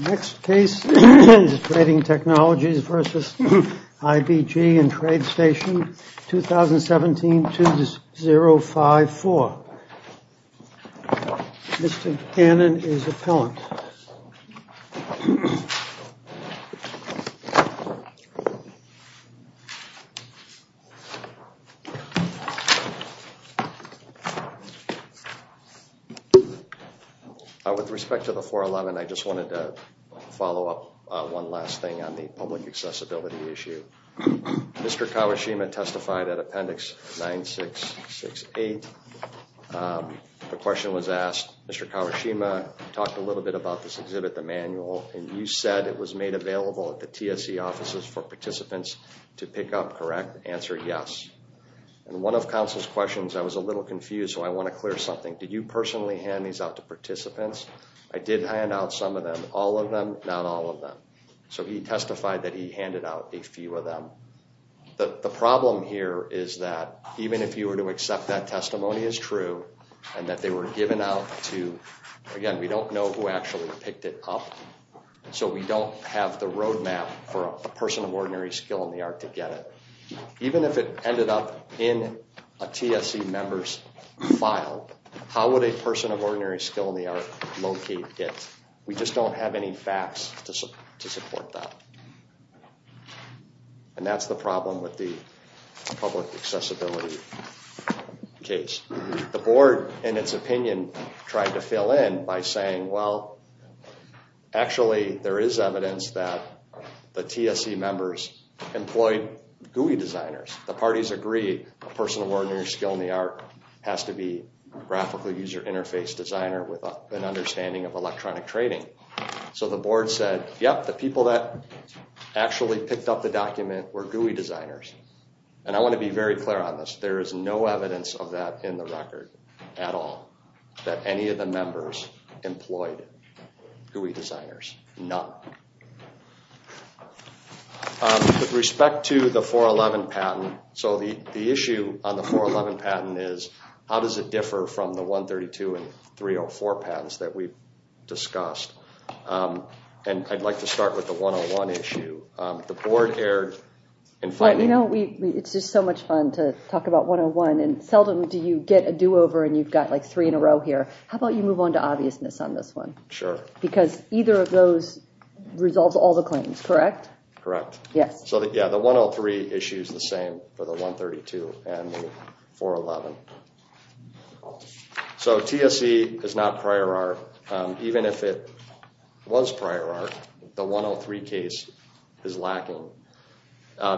In the next case is Trading Technologies versus IBG and Trade Station, 2017, two to zero. Case number is 054. Mr. Cannon is appellant. With respect to the 411, I just wanted to follow up one last thing on the public accessibility issue. Mr. Kawashima testified at Appendix 9668. The question was asked, Mr. Kawashima talked a little bit about this exhibit, the manual, and you said it was made available at the TSE offices for participants to pick up, correct? Answer, yes. And one of counsel's questions, I was a little confused, so I want to clear something. Did you personally hand these out to participants? I did hand out some of them, all of them, not all of them. So he testified that he handed out a few of them. The problem here is that even if you were to accept that testimony as true and that they were given out to, again, we don't know who actually picked it up, so we don't have the roadmap for a person of ordinary skill in the art to get it. Even if it ended up in a TSE member's file, how would a person of ordinary skill in the art locate it? We just don't have any facts to support that. And that's the problem with the public accessibility case. The board, in its opinion, tried to fill in by saying, well, actually there is evidence that the TSE members employed GUI designers. The parties agreed a person of ordinary skill in the art has to be a graphical user interface designer with an understanding of electronic trading. So the board said, yep, the people that actually picked up the document were GUI designers. And I want to be very clear on this. There is no evidence of that in the record at all, that any of the members employed GUI designers, none. With respect to the 411 patent, so the issue on the 411 patent is how does it differ from the 132 and 304 patents that we've discussed? And I'd like to start with the 101 issue. The board erred in finding... Well, you know, it's just so much fun to talk about 101, and seldom do you get a do-over and you've got like three in a row here. How about you move on to obviousness on this one? Sure. Because either of those resolves all the claims, correct? Correct. Yes. So yeah, the 103 issue is the same for the 132 and the 411. So TSC is not prior art. Even if it was prior art, the 103 case is lacking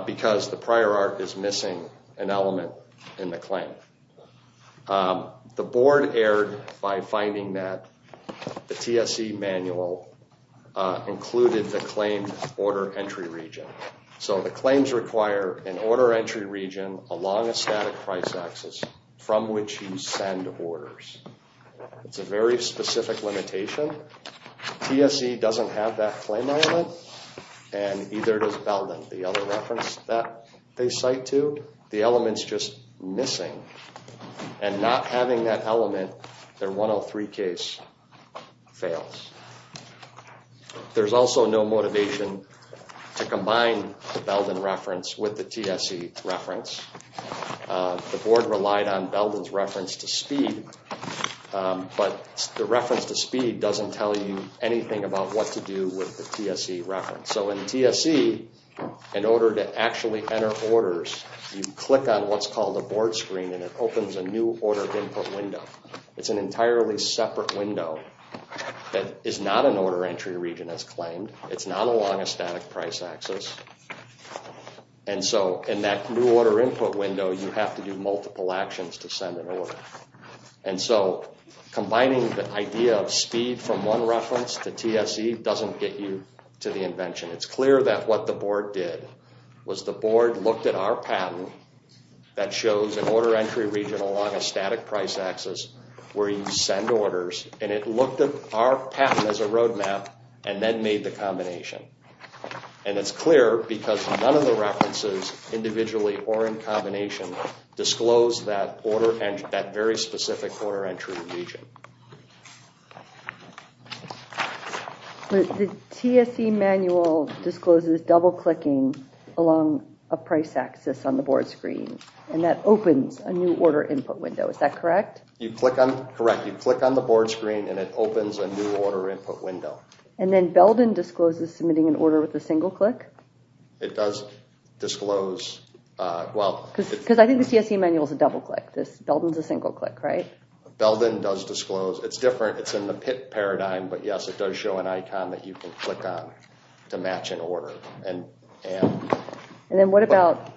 because the prior art is missing an element in the claim. The board erred by finding that the TSC manual included the claimed order entry region. So the claims require an order entry region along a static price axis from which you send orders. It's a very specific limitation. TSC doesn't have that claim element, and neither does Belden, the other reference that they cite to. So the board, the element's just missing. And not having that element, their 103 case fails. There's also no motivation to combine the Belden reference with the TSC reference. The board relied on Belden's reference to speed, but the reference to speed doesn't tell you anything about what to do with the TSC reference. So in TSC, in order to actually enter orders, you click on what's called a board screen and it opens a new order input window. It's an entirely separate window that is not an order entry region as claimed. It's not along a static price axis. And so in that new order input window, you have to do multiple actions to send an order. And so combining the idea of speed from one reference to TSC doesn't get you to the invention. It's clear that what the board did was the board looked at our patent that shows an order entry region along a static price axis where you send orders, and it looked at our patent as a roadmap and then made the combination. And it's clear because none of the references, individually or in combination, disclose that very specific order entry region. The TSC manual discloses double-clicking along a price axis on the board screen, and that opens a new order input window. Is that correct? Correct. You click on the board screen and it opens a new order input window. And then Belden discloses submitting an order with a single click? It does disclose... Because I think the TSC manual is a double-click. Belden is a single-click, right? Belden does disclose. It's different. It's in the PIP paradigm, but yes, it does show an icon that you can click on to match an order. And then what about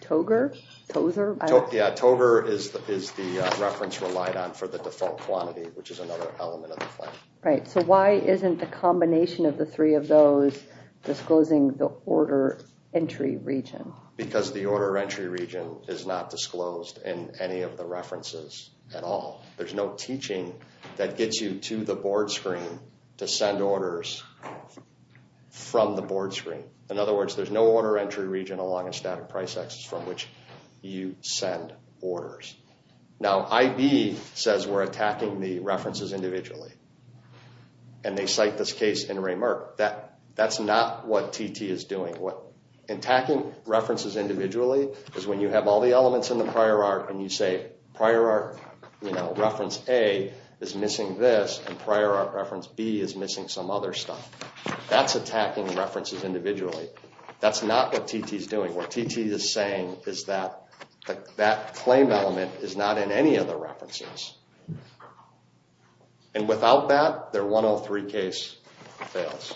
Togr? Yeah, Togr is the reference relied on for the default quantity, which is another element of the claim. Right. So why isn't the combination of the three of those disclosing the order entry region? Because the order entry region is not disclosed in any of the references at all. There's no teaching that gets you to the board screen to send orders from the board screen. In other words, there's no order entry region along a static price axis from which you send orders. Now, IB says we're attacking the references individually. And they cite this case in Ray Merck. That's not what TT is doing. Attacking references individually is when you have all the elements in the prior art and you say, prior art reference A is missing this, and prior art reference B is missing some other stuff. That's attacking references individually. That's not what TT is doing. What TT is saying is that that claim element is not in any of the references. And without that, their 103 case fails.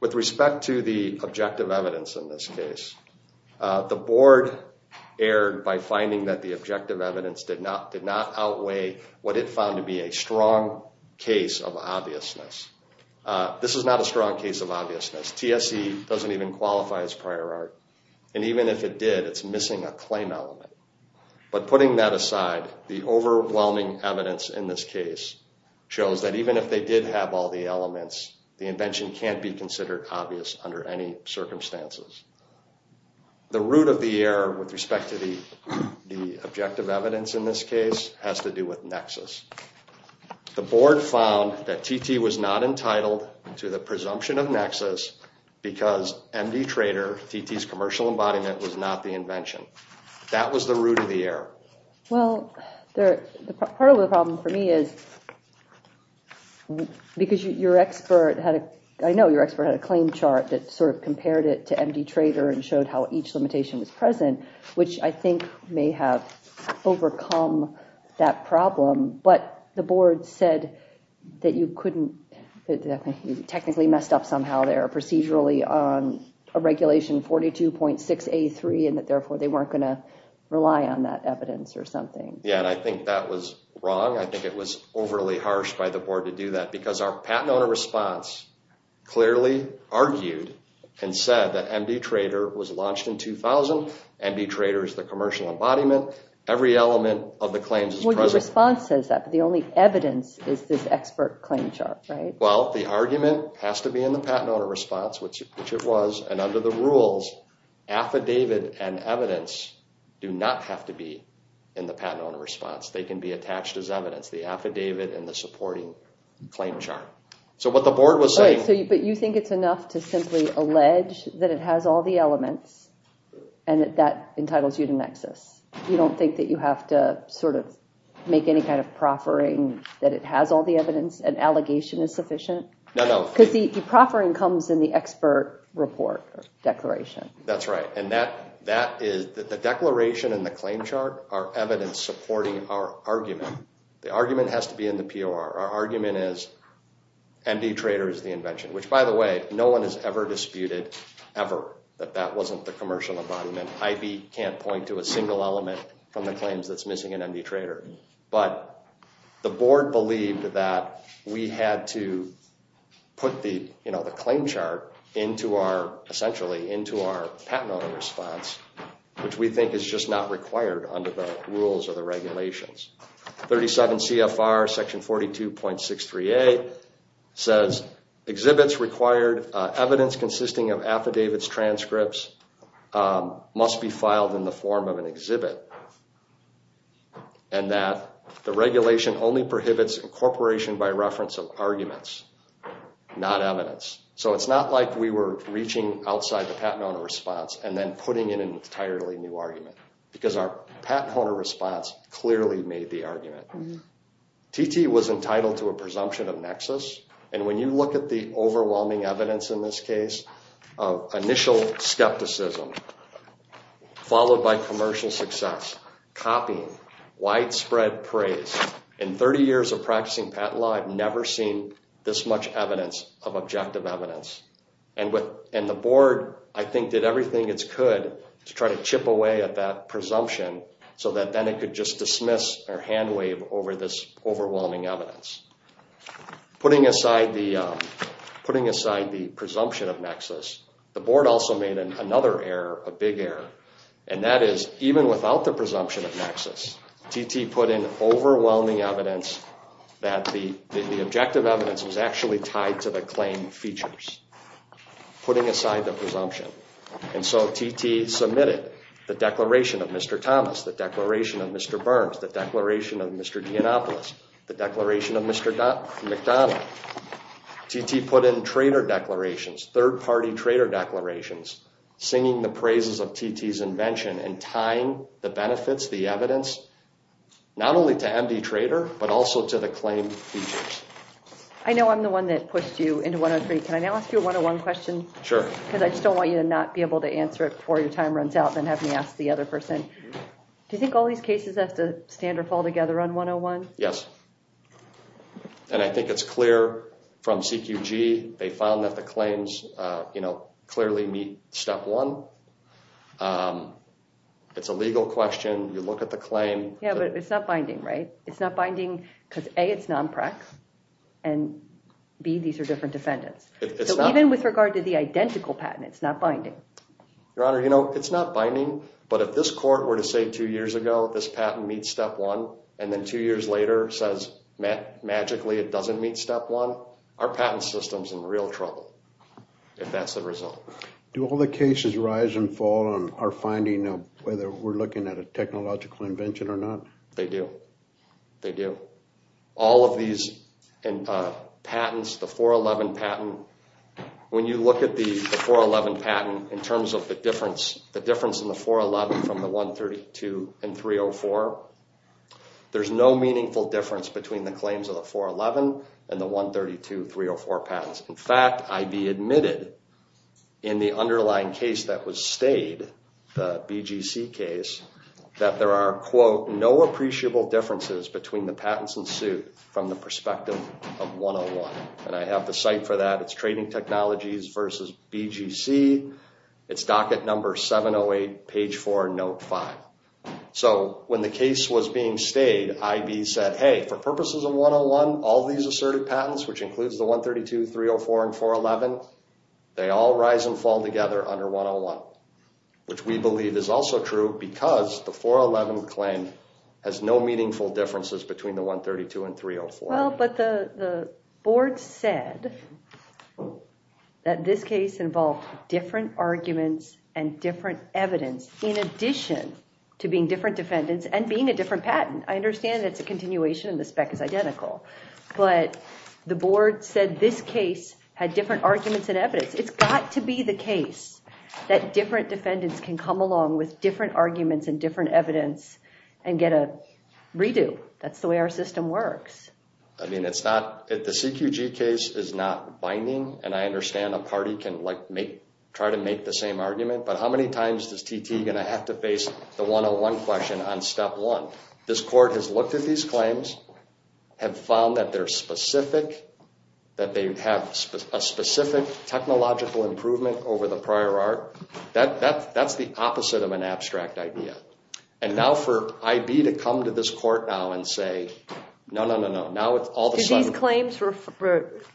With respect to the objective evidence in this case, the board erred by finding that the objective evidence did not outweigh what it found to be a strong case of obviousness. This is not a strong case of obviousness. TSE doesn't even qualify as prior art. And even if it did, it's missing a claim element. But putting that aside, the overwhelming evidence in this case shows that even if they did have all the elements, the invention can't be considered obvious under any circumstances. The root of the error with respect to the objective evidence in this case has to do with Nexus. The board found that TT was not entitled to the presumption of Nexus because MD Trader, TT's commercial embodiment, was not the invention. That was the root of the error. Part of the problem for me is because your expert had a claim chart that sort of compared it to MD Trader and showed how each limitation was present, which I think may have overcome that problem. But the board said that you technically messed up somehow there procedurally on a regulation 42.6A3 and that therefore they weren't going to rely on that evidence or something. Yeah, and I think that was wrong. I think it was overly harsh by the board to do that because our patent owner response clearly argued and said that MD Trader was launched in 2000. MD Trader is the commercial embodiment. Every element of the claims is present. Well, your response says that, but the only evidence is this expert claim chart, right? Well, the argument has to be in the patent owner response, which it was. And under the rules, affidavit and evidence do not have to be in the patent owner response. They can be attached as evidence, the affidavit and the supporting claim chart. But you think it's enough to simply allege that it has all the elements and that that entitles you to Nexus? You don't think that you have to sort of make any kind of proffering that it has all the evidence and allegation is sufficient? Because the proffering comes in the expert report declaration. That's right. And the declaration and the claim chart are evidence supporting our argument. The argument has to be in the POR. Our argument is MD Trader is the invention, which, by the way, no one has ever disputed ever that that wasn't the commercial embodiment. IB can't point to a single element from the claims that's missing in MD Trader. But the board believed that we had to put the, you know, the claim chart into our essentially into our patent owner response, which we think is just not required under the rules or the regulations. 37 CFR Section 42.638 says exhibits required evidence consisting of affidavits, transcripts must be filed in the form of an exhibit. And that the regulation only prohibits incorporation by reference of arguments, not evidence. So it's not like we were reaching outside the patent owner response and then putting in an entirely new argument because our patent owner response clearly made the argument. TT was entitled to a presumption of nexus. And when you look at the overwhelming evidence in this case, initial skepticism followed by commercial success, copying, widespread praise. In 30 years of practicing patent law, I've never seen this much evidence of objective evidence. And the board, I think, did everything it could to try to chip away at that presumption so that then it could just dismiss or hand wave over this overwhelming evidence. Putting aside the presumption of nexus, the board also made another error, a big error. And that is even without the presumption of nexus, TT put in overwhelming evidence that the objective evidence was actually tied to the claim features. Putting aside the presumption. And so TT submitted the declaration of Mr. Thomas, the declaration of Mr. Burns, the declaration of Mr. Giannopoulos, the declaration of Mr. McDonough. TT put in trader declarations, third-party trader declarations, singing the praises of TT's invention and tying the benefits, the evidence, not only to MD Trader, but also to the claim features. I know I'm the one that pushed you into 103. Can I now ask you a 101 question? Sure. Because I just don't want you to not be able to answer it before your time runs out and have me ask the other person. Do you think all these cases have to stand or fall together on 101? Yes. And I think it's clear from CQG, they found that the claims, you know, clearly meet step one. It's a legal question. You look at the claim. Yeah, but it's not binding, right? It's not binding because A, it's non-prex and B, these are different defendants. So even with regard to the identical patent, it's not binding. Your Honor, you know, it's not binding. But if this court were to say two years ago this patent meets step one and then two years later says magically it doesn't meet step one, our patent system's in real trouble if that's the result. Do all the cases rise and fall on our finding of whether we're looking at a technological invention or not? They do. They do. All of these patents, the 411 patent, when you look at the 411 patent in terms of the difference in the 411 from the 132 and 304, there's no meaningful difference between the claims of the 411 and the 132, 304 patents. In fact, I.B. admitted in the underlying case that was stayed, the BGC case, that there are, quote, no appreciable differences between the patents and suit from the perspective of 101. And I have the site for that. It's Trading Technologies versus BGC. It's docket number 708, page 4, note 5. So when the case was being stayed, I.B. said, hey, for purposes of 101, all these assertive patents, which includes the 132, 304, and 411, they all rise and fall together under 101, which we believe is also true because the 411 claim has no meaningful differences between the 132 and 304. Well, but the board said that this case involved different arguments and different evidence, in addition to being different defendants and being a different patent. I understand it's a continuation and the spec is identical. But the board said this case had different arguments and evidence. It's got to be the case that different defendants can come along with different arguments and different evidence and get a redo. That's the way our system works. I mean, it's not the CQG case is not binding. And I understand a party can try to make the same argument. But how many times does TT going to have to face the 101 question on step one? This court has looked at these claims, have found that they're specific, that they have a specific technological improvement over the prior art. That's the opposite of an abstract idea. And now for I.B. to come to this court now and say, no, no, no, no. Now it's all the sudden. Do these claims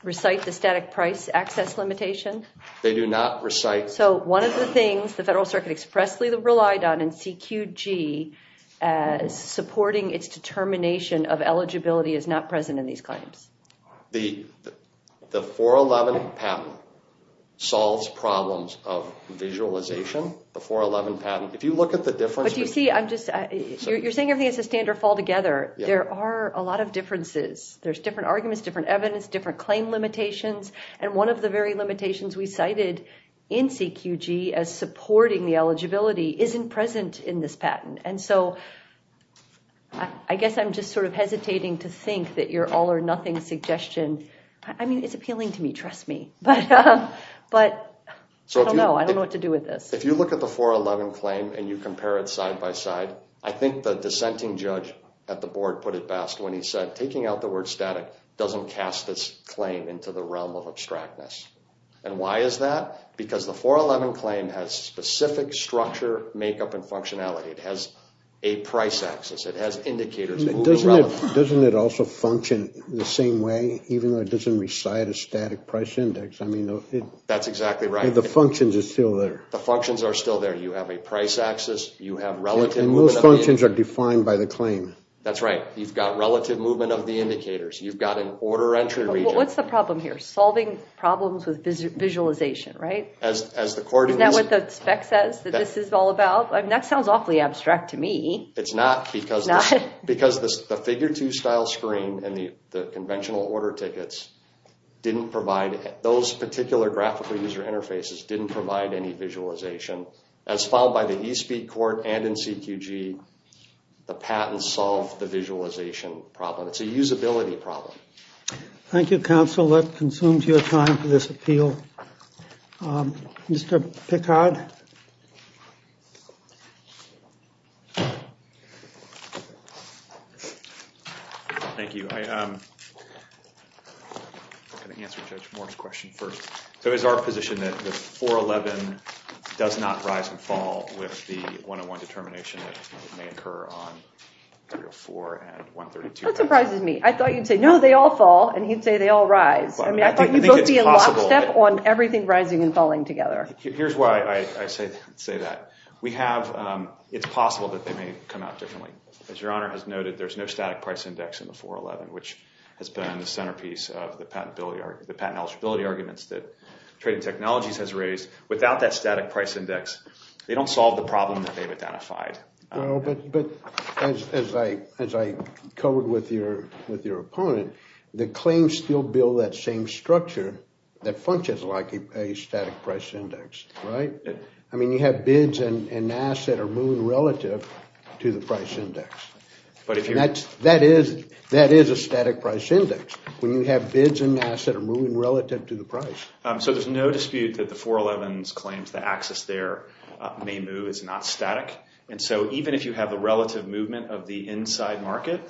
recite the static price access limitation? They do not recite. So one of the things the Federal Circuit expressly relied on in CQG as supporting its determination of eligibility is not present in these claims. The 411 patent solves problems of visualization. The 411 patent, if you look at the difference. But you see, I'm just you're saying everything is a standard fall together. There are a lot of differences. There's different arguments, different evidence, different claim limitations. And one of the very limitations we cited in CQG as supporting the eligibility isn't present in this patent. And so I guess I'm just sort of hesitating to think that you're all or nothing suggestion. I mean, it's appealing to me. Trust me. But I don't know. I don't know what to do with this. If you look at the 411 claim and you compare it side by side. I think the dissenting judge at the board put it best when he said taking out the word static doesn't cast this claim into the realm of abstractness. And why is that? Because the 411 claim has specific structure, makeup, and functionality. It has a price access. It has indicators. Doesn't it also function the same way even though it doesn't recite a static price index? I mean. That's exactly right. The functions are still there. The functions are still there. You have a price access. And those functions are defined by the claim. That's right. You've got relative movement of the indicators. You've got an order entry region. What's the problem here? Solving problems with visualization, right? Isn't that what the spec says that this is all about? I mean, that sounds awfully abstract to me. It's not because the figure two style screen and the conventional order tickets didn't provide. Those particular graphical user interfaces didn't provide any visualization. As filed by the eSpeed court and in CQG, the patent solved the visualization problem. It's a usability problem. Thank you, counsel. That consumes your time for this appeal. Mr. Picard? Thank you. I'm going to answer Judge Moore's question first. So is our position that the 411 does not rise and fall with the 101 determination that may occur on 304 and 132? That surprises me. I thought you'd say, no, they all fall. And he'd say they all rise. I mean, I thought you'd both be in lockstep on everything rising and falling together. Here's why I say that. We have – it's possible that they may come out differently. As Your Honor has noted, there's no static price index in the 411, which has been the centerpiece of the patent eligibility arguments that Trading Technologies has raised. Without that static price index, they don't solve the problem that they've identified. But as I covered with your opponent, the claims still build that same structure that functions like a static price index, right? I mean, you have bids and an asset are moving relative to the price index. That is a static price index when you have bids and an asset are moving relative to the price. So there's no dispute that the 411's claims the axis there may move. It's not static. And so even if you have the relative movement of the inside market,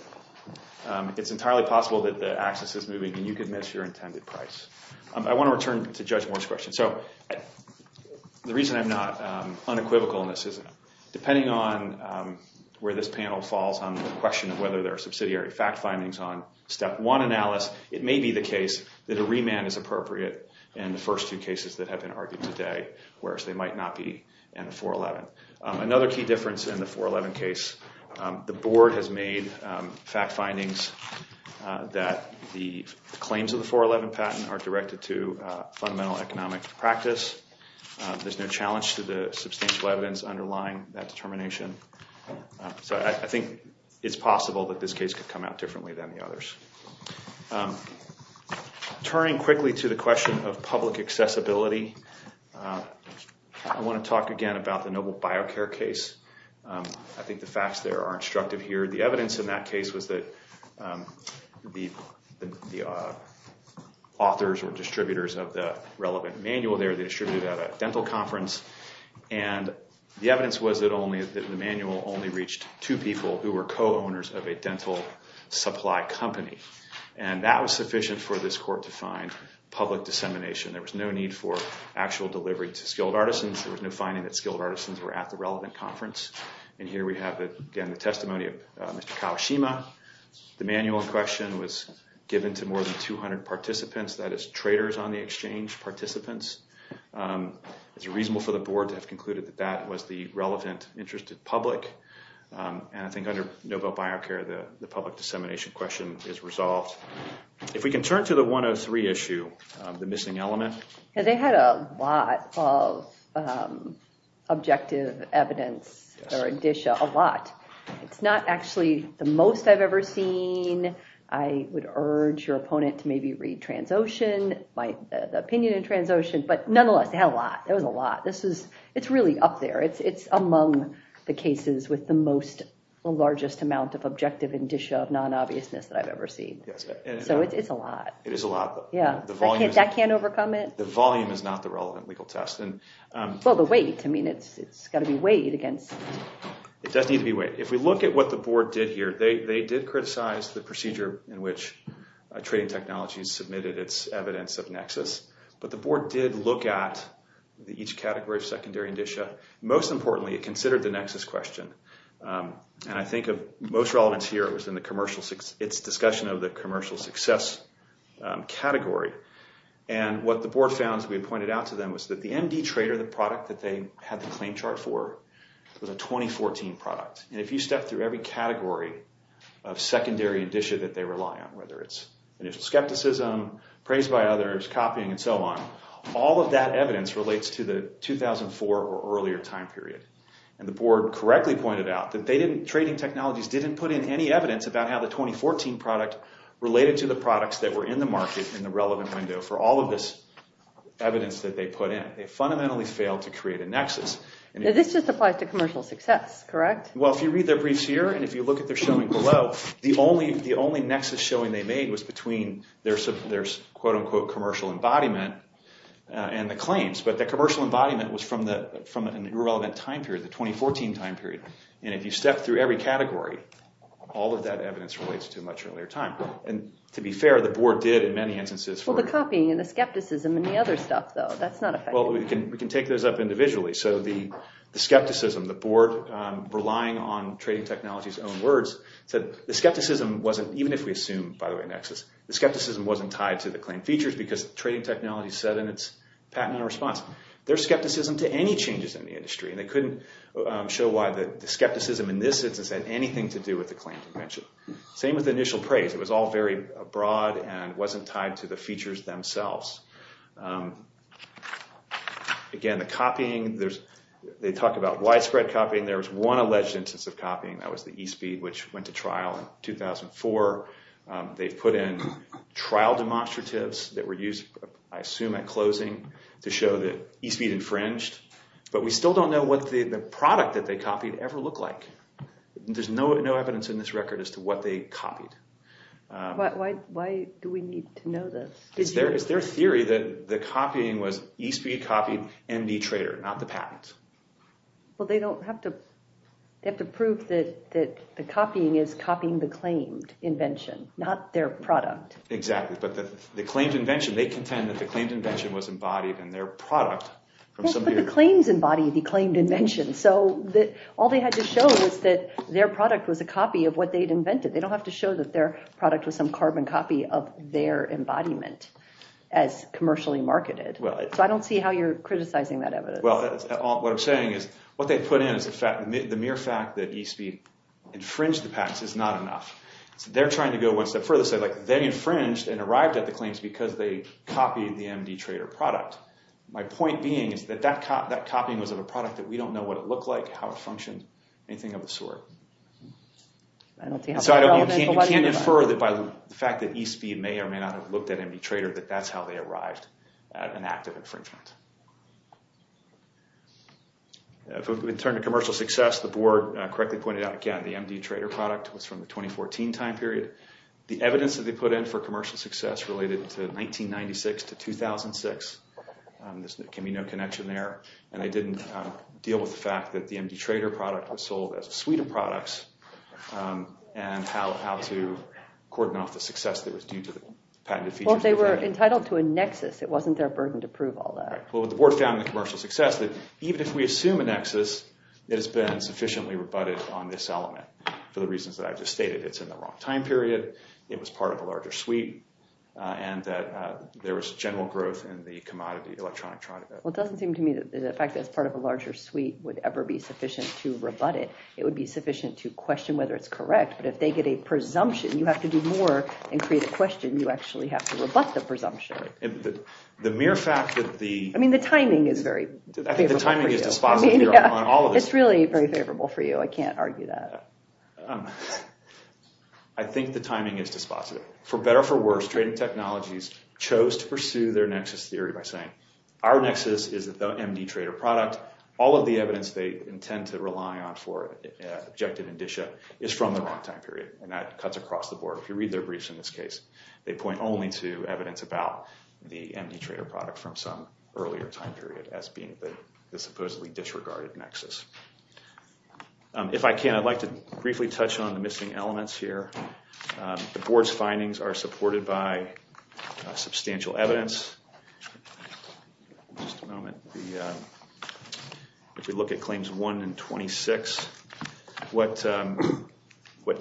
it's entirely possible that the axis is moving, and you could miss your intended price. I want to return to Judge Moore's question. So the reason I'm not unequivocal in this is depending on where this panel falls on the question of whether there are subsidiary fact findings on Step 1 analysis, it may be the case that a remand is appropriate in the first two cases that have been argued today, whereas they might not be in the 411. Another key difference in the 411 case, the board has made fact findings that the claims of the 411 patent are directed to fundamental economic practice. There's no challenge to the substantial evidence underlying that determination. So I think it's possible that this case could come out differently than the others. Turning quickly to the question of public accessibility, I want to talk again about the Noble BioCare case. I think the facts there are instructive here. The evidence in that case was that the authors or distributors of the relevant manual there, they distributed at a dental conference, and the evidence was that the manual only reached two people who were co-owners of a dental supply company. And that was sufficient for this court to find public dissemination. There was no need for actual delivery to skilled artisans. There was no finding that skilled artisans were at the relevant conference. And here we have, again, the testimony of Mr. Kawashima. The manual question was given to more than 200 participants, that is, traders on the exchange, participants. It's reasonable for the board to have concluded that that was the relevant interest of public. And I think under Noble BioCare, the public dissemination question is resolved. If we can turn to the 103 issue, the missing element. They had a lot of objective evidence or addition, a lot. It's not actually the most I've ever seen. I would urge your opponent to maybe read Transocean, the opinion in Transocean. But nonetheless, they had a lot. It was a lot. It's really up there. It's among the cases with the most, the largest amount of objective addition of non-obviousness that I've ever seen. So it's a lot. It is a lot. Yeah. That can't overcome it? The volume is not the relevant legal test. Well, the weight. I mean, it's got to be weighed against. It does need to be weighed. If we look at what the board did here, they did criticize the procedure in which Trading Technologies submitted its evidence of nexus. But the board did look at each category of secondary indicia. Most importantly, it considered the nexus question. And I think of most relevance here was in its discussion of the commercial success category. And what the board found, as we pointed out to them, was that the MD trader, the product that they had the claim chart for, was a 2014 product. And if you step through every category of secondary indicia that they rely on, whether it's initial skepticism, praise by others, copying, and so on, all of that evidence relates to the 2004 or earlier time period. And the board correctly pointed out that Trading Technologies didn't put in any evidence about how the 2014 product related to the products that were in the market in the relevant window. For all of this evidence that they put in, they fundamentally failed to create a nexus. This just applies to commercial success, correct? Well, if you read their briefs here and if you look at their showing below, the only nexus showing they made was between their quote-unquote commercial embodiment and the claims. But the commercial embodiment was from an irrelevant time period, the 2014 time period. And if you step through every category, all of that evidence relates to a much earlier time. And to be fair, the board did in many instances. Well, the copying and the skepticism and the other stuff, though, that's not a factor. Well, we can take those up individually. So the skepticism, the board relying on Trading Technologies' own words, said the skepticism wasn't, even if we assume, by the way, nexus, the skepticism wasn't tied to the claim features because Trading Technologies said in its patent in response. Their skepticism to any changes in the industry, and they couldn't show why the skepticism in this instance had anything to do with the claim convention. Same with the initial praise. It was all very broad and wasn't tied to the features themselves. Again, the copying, they talk about widespread copying. There was one alleged instance of copying. That was the eSpeed, which went to trial in 2004. They put in trial demonstratives that were used, I assume, at closing to show that eSpeed infringed. But we still don't know what the product that they copied ever looked like. There's no evidence in this record as to what they copied. Why do we need to know this? It's their theory that the copying was eSpeed copied MD Trader, not the patent. Well, they don't have to prove that the copying is copying the claimed invention, not their product. Exactly. But the claimed invention, they contend that the claimed invention was embodied in their product. Well, but the claims embody the claimed invention. So all they had to show was that their product was a copy of what they'd invented. They don't have to show that their product was some carbon copy of their embodiment as commercially marketed. So I don't see how you're criticizing that evidence. Well, what I'm saying is what they put in is the mere fact that eSpeed infringed the patents is not enough. They're trying to go one step further. So they infringed and arrived at the claims because they copied the MD Trader product. My point being is that that copying was of a product that we don't know what it looked like, how it functioned, anything of the sort. So you can't infer that by the fact that eSpeed may or may not have looked at MD Trader that that's how they arrived at an act of infringement. If we turn to commercial success, the board correctly pointed out, again, the MD Trader product was from the 2014 time period. The evidence that they put in for commercial success related to 1996 to 2006. There can be no connection there. And they didn't deal with the fact that the MD Trader product was sold as a suite of products and how to cordon off the success that was due to the patented features. Well, if they were entitled to a nexus, it wasn't their burden to prove all that. Well, the board found in the commercial success that even if we assume a nexus, it has been sufficiently rebutted on this element for the reasons that I've just stated. It's in the wrong time period. It was part of a larger suite. And that there was general growth in the commodity electronic product. Well, it doesn't seem to me that the fact that it's part of a larger suite would ever be sufficient to rebut it. It would be sufficient to question whether it's correct. But if they get a presumption, you have to do more and create a question. You actually have to rebut the presumption. The mere fact that the... I mean, the timing is very favorable for you. I think the timing is dispositive on all of this. It's really very favorable for you. I can't argue that. I think the timing is dispositive. For better or for worse, trading technologies chose to pursue their nexus theory by saying our nexus is the MD Trader product. All of the evidence they intend to rely on for objective indicia is from the wrong time period. And that cuts across the board. So if you read their briefs in this case, they point only to evidence about the MD Trader product from some earlier time period as being the supposedly disregarded nexus. If I can, I'd like to briefly touch on the missing elements here. The board's findings are supported by substantial evidence. Just a moment. If you look at Claims 1 and 26, what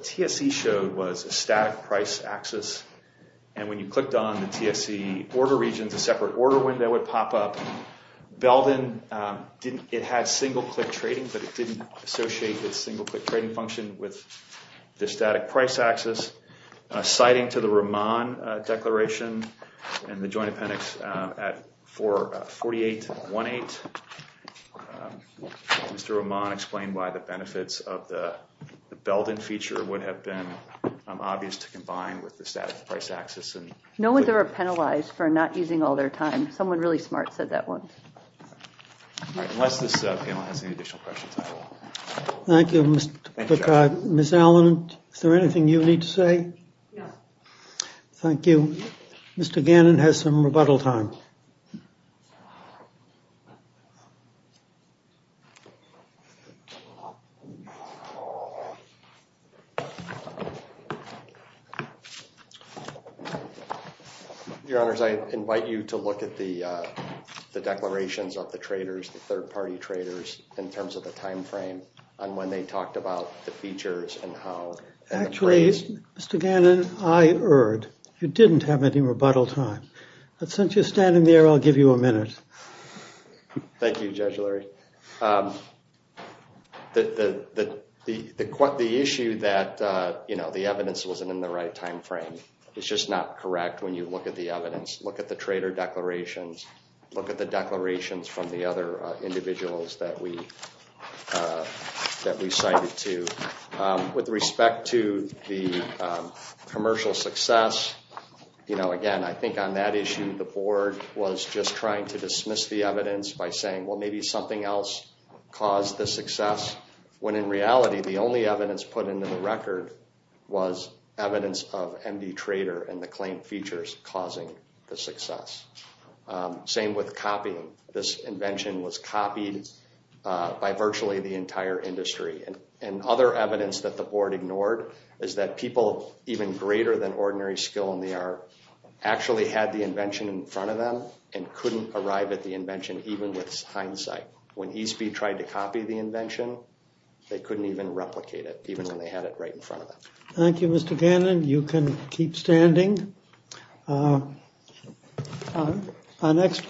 TSE showed was a static price axis. And when you clicked on the TSE order regions, a separate order window would pop up. Belden didn't... It had single-click trading, but it didn't associate the single-click trading function with the static price axis. Citing to the Roman declaration and the joint appendix at 4818, Mr. Roman explained why the benefits of the Belden feature would have been obvious to combine with the static price axis. No one there were penalized for not using all their time. Someone really smart said that one. Unless this panel has any additional questions, I will. Thank you, Mr. Picard. Ms. Allen, is there anything you need to say? No. Thank you. Mr. Gannon has some rebuttal time. Thank you. Your Honors, I invite you to look at the declarations of the traders, the third-party traders, in terms of the time frame on when they talked about the features and how... Actually, Mr. Gannon, I erred. You didn't have any rebuttal time. But since you're standing there, I'll give you a minute. Thank you, Judge Lurie. The issue that the evidence wasn't in the right time frame is just not correct when you look at the evidence. Look at the trader declarations. Look at the declarations from the other individuals that we cited to. With respect to the commercial success, again, I think on that issue, the Board was just trying to dismiss the evidence by saying, well, maybe something else caused the success, when in reality, the only evidence put into the record was evidence of MD trader and the claim features causing the success. Same with copying. This invention was copied by virtually the entire industry. And other evidence that the Board ignored is that people even greater than ordinary skill in the art actually had the invention in front of them and couldn't arrive at the invention, even with hindsight. When eSpeed tried to copy the invention, they couldn't even replicate it, even when they had it right in front of them. Thank you, Mr. Gannon. You can keep standing.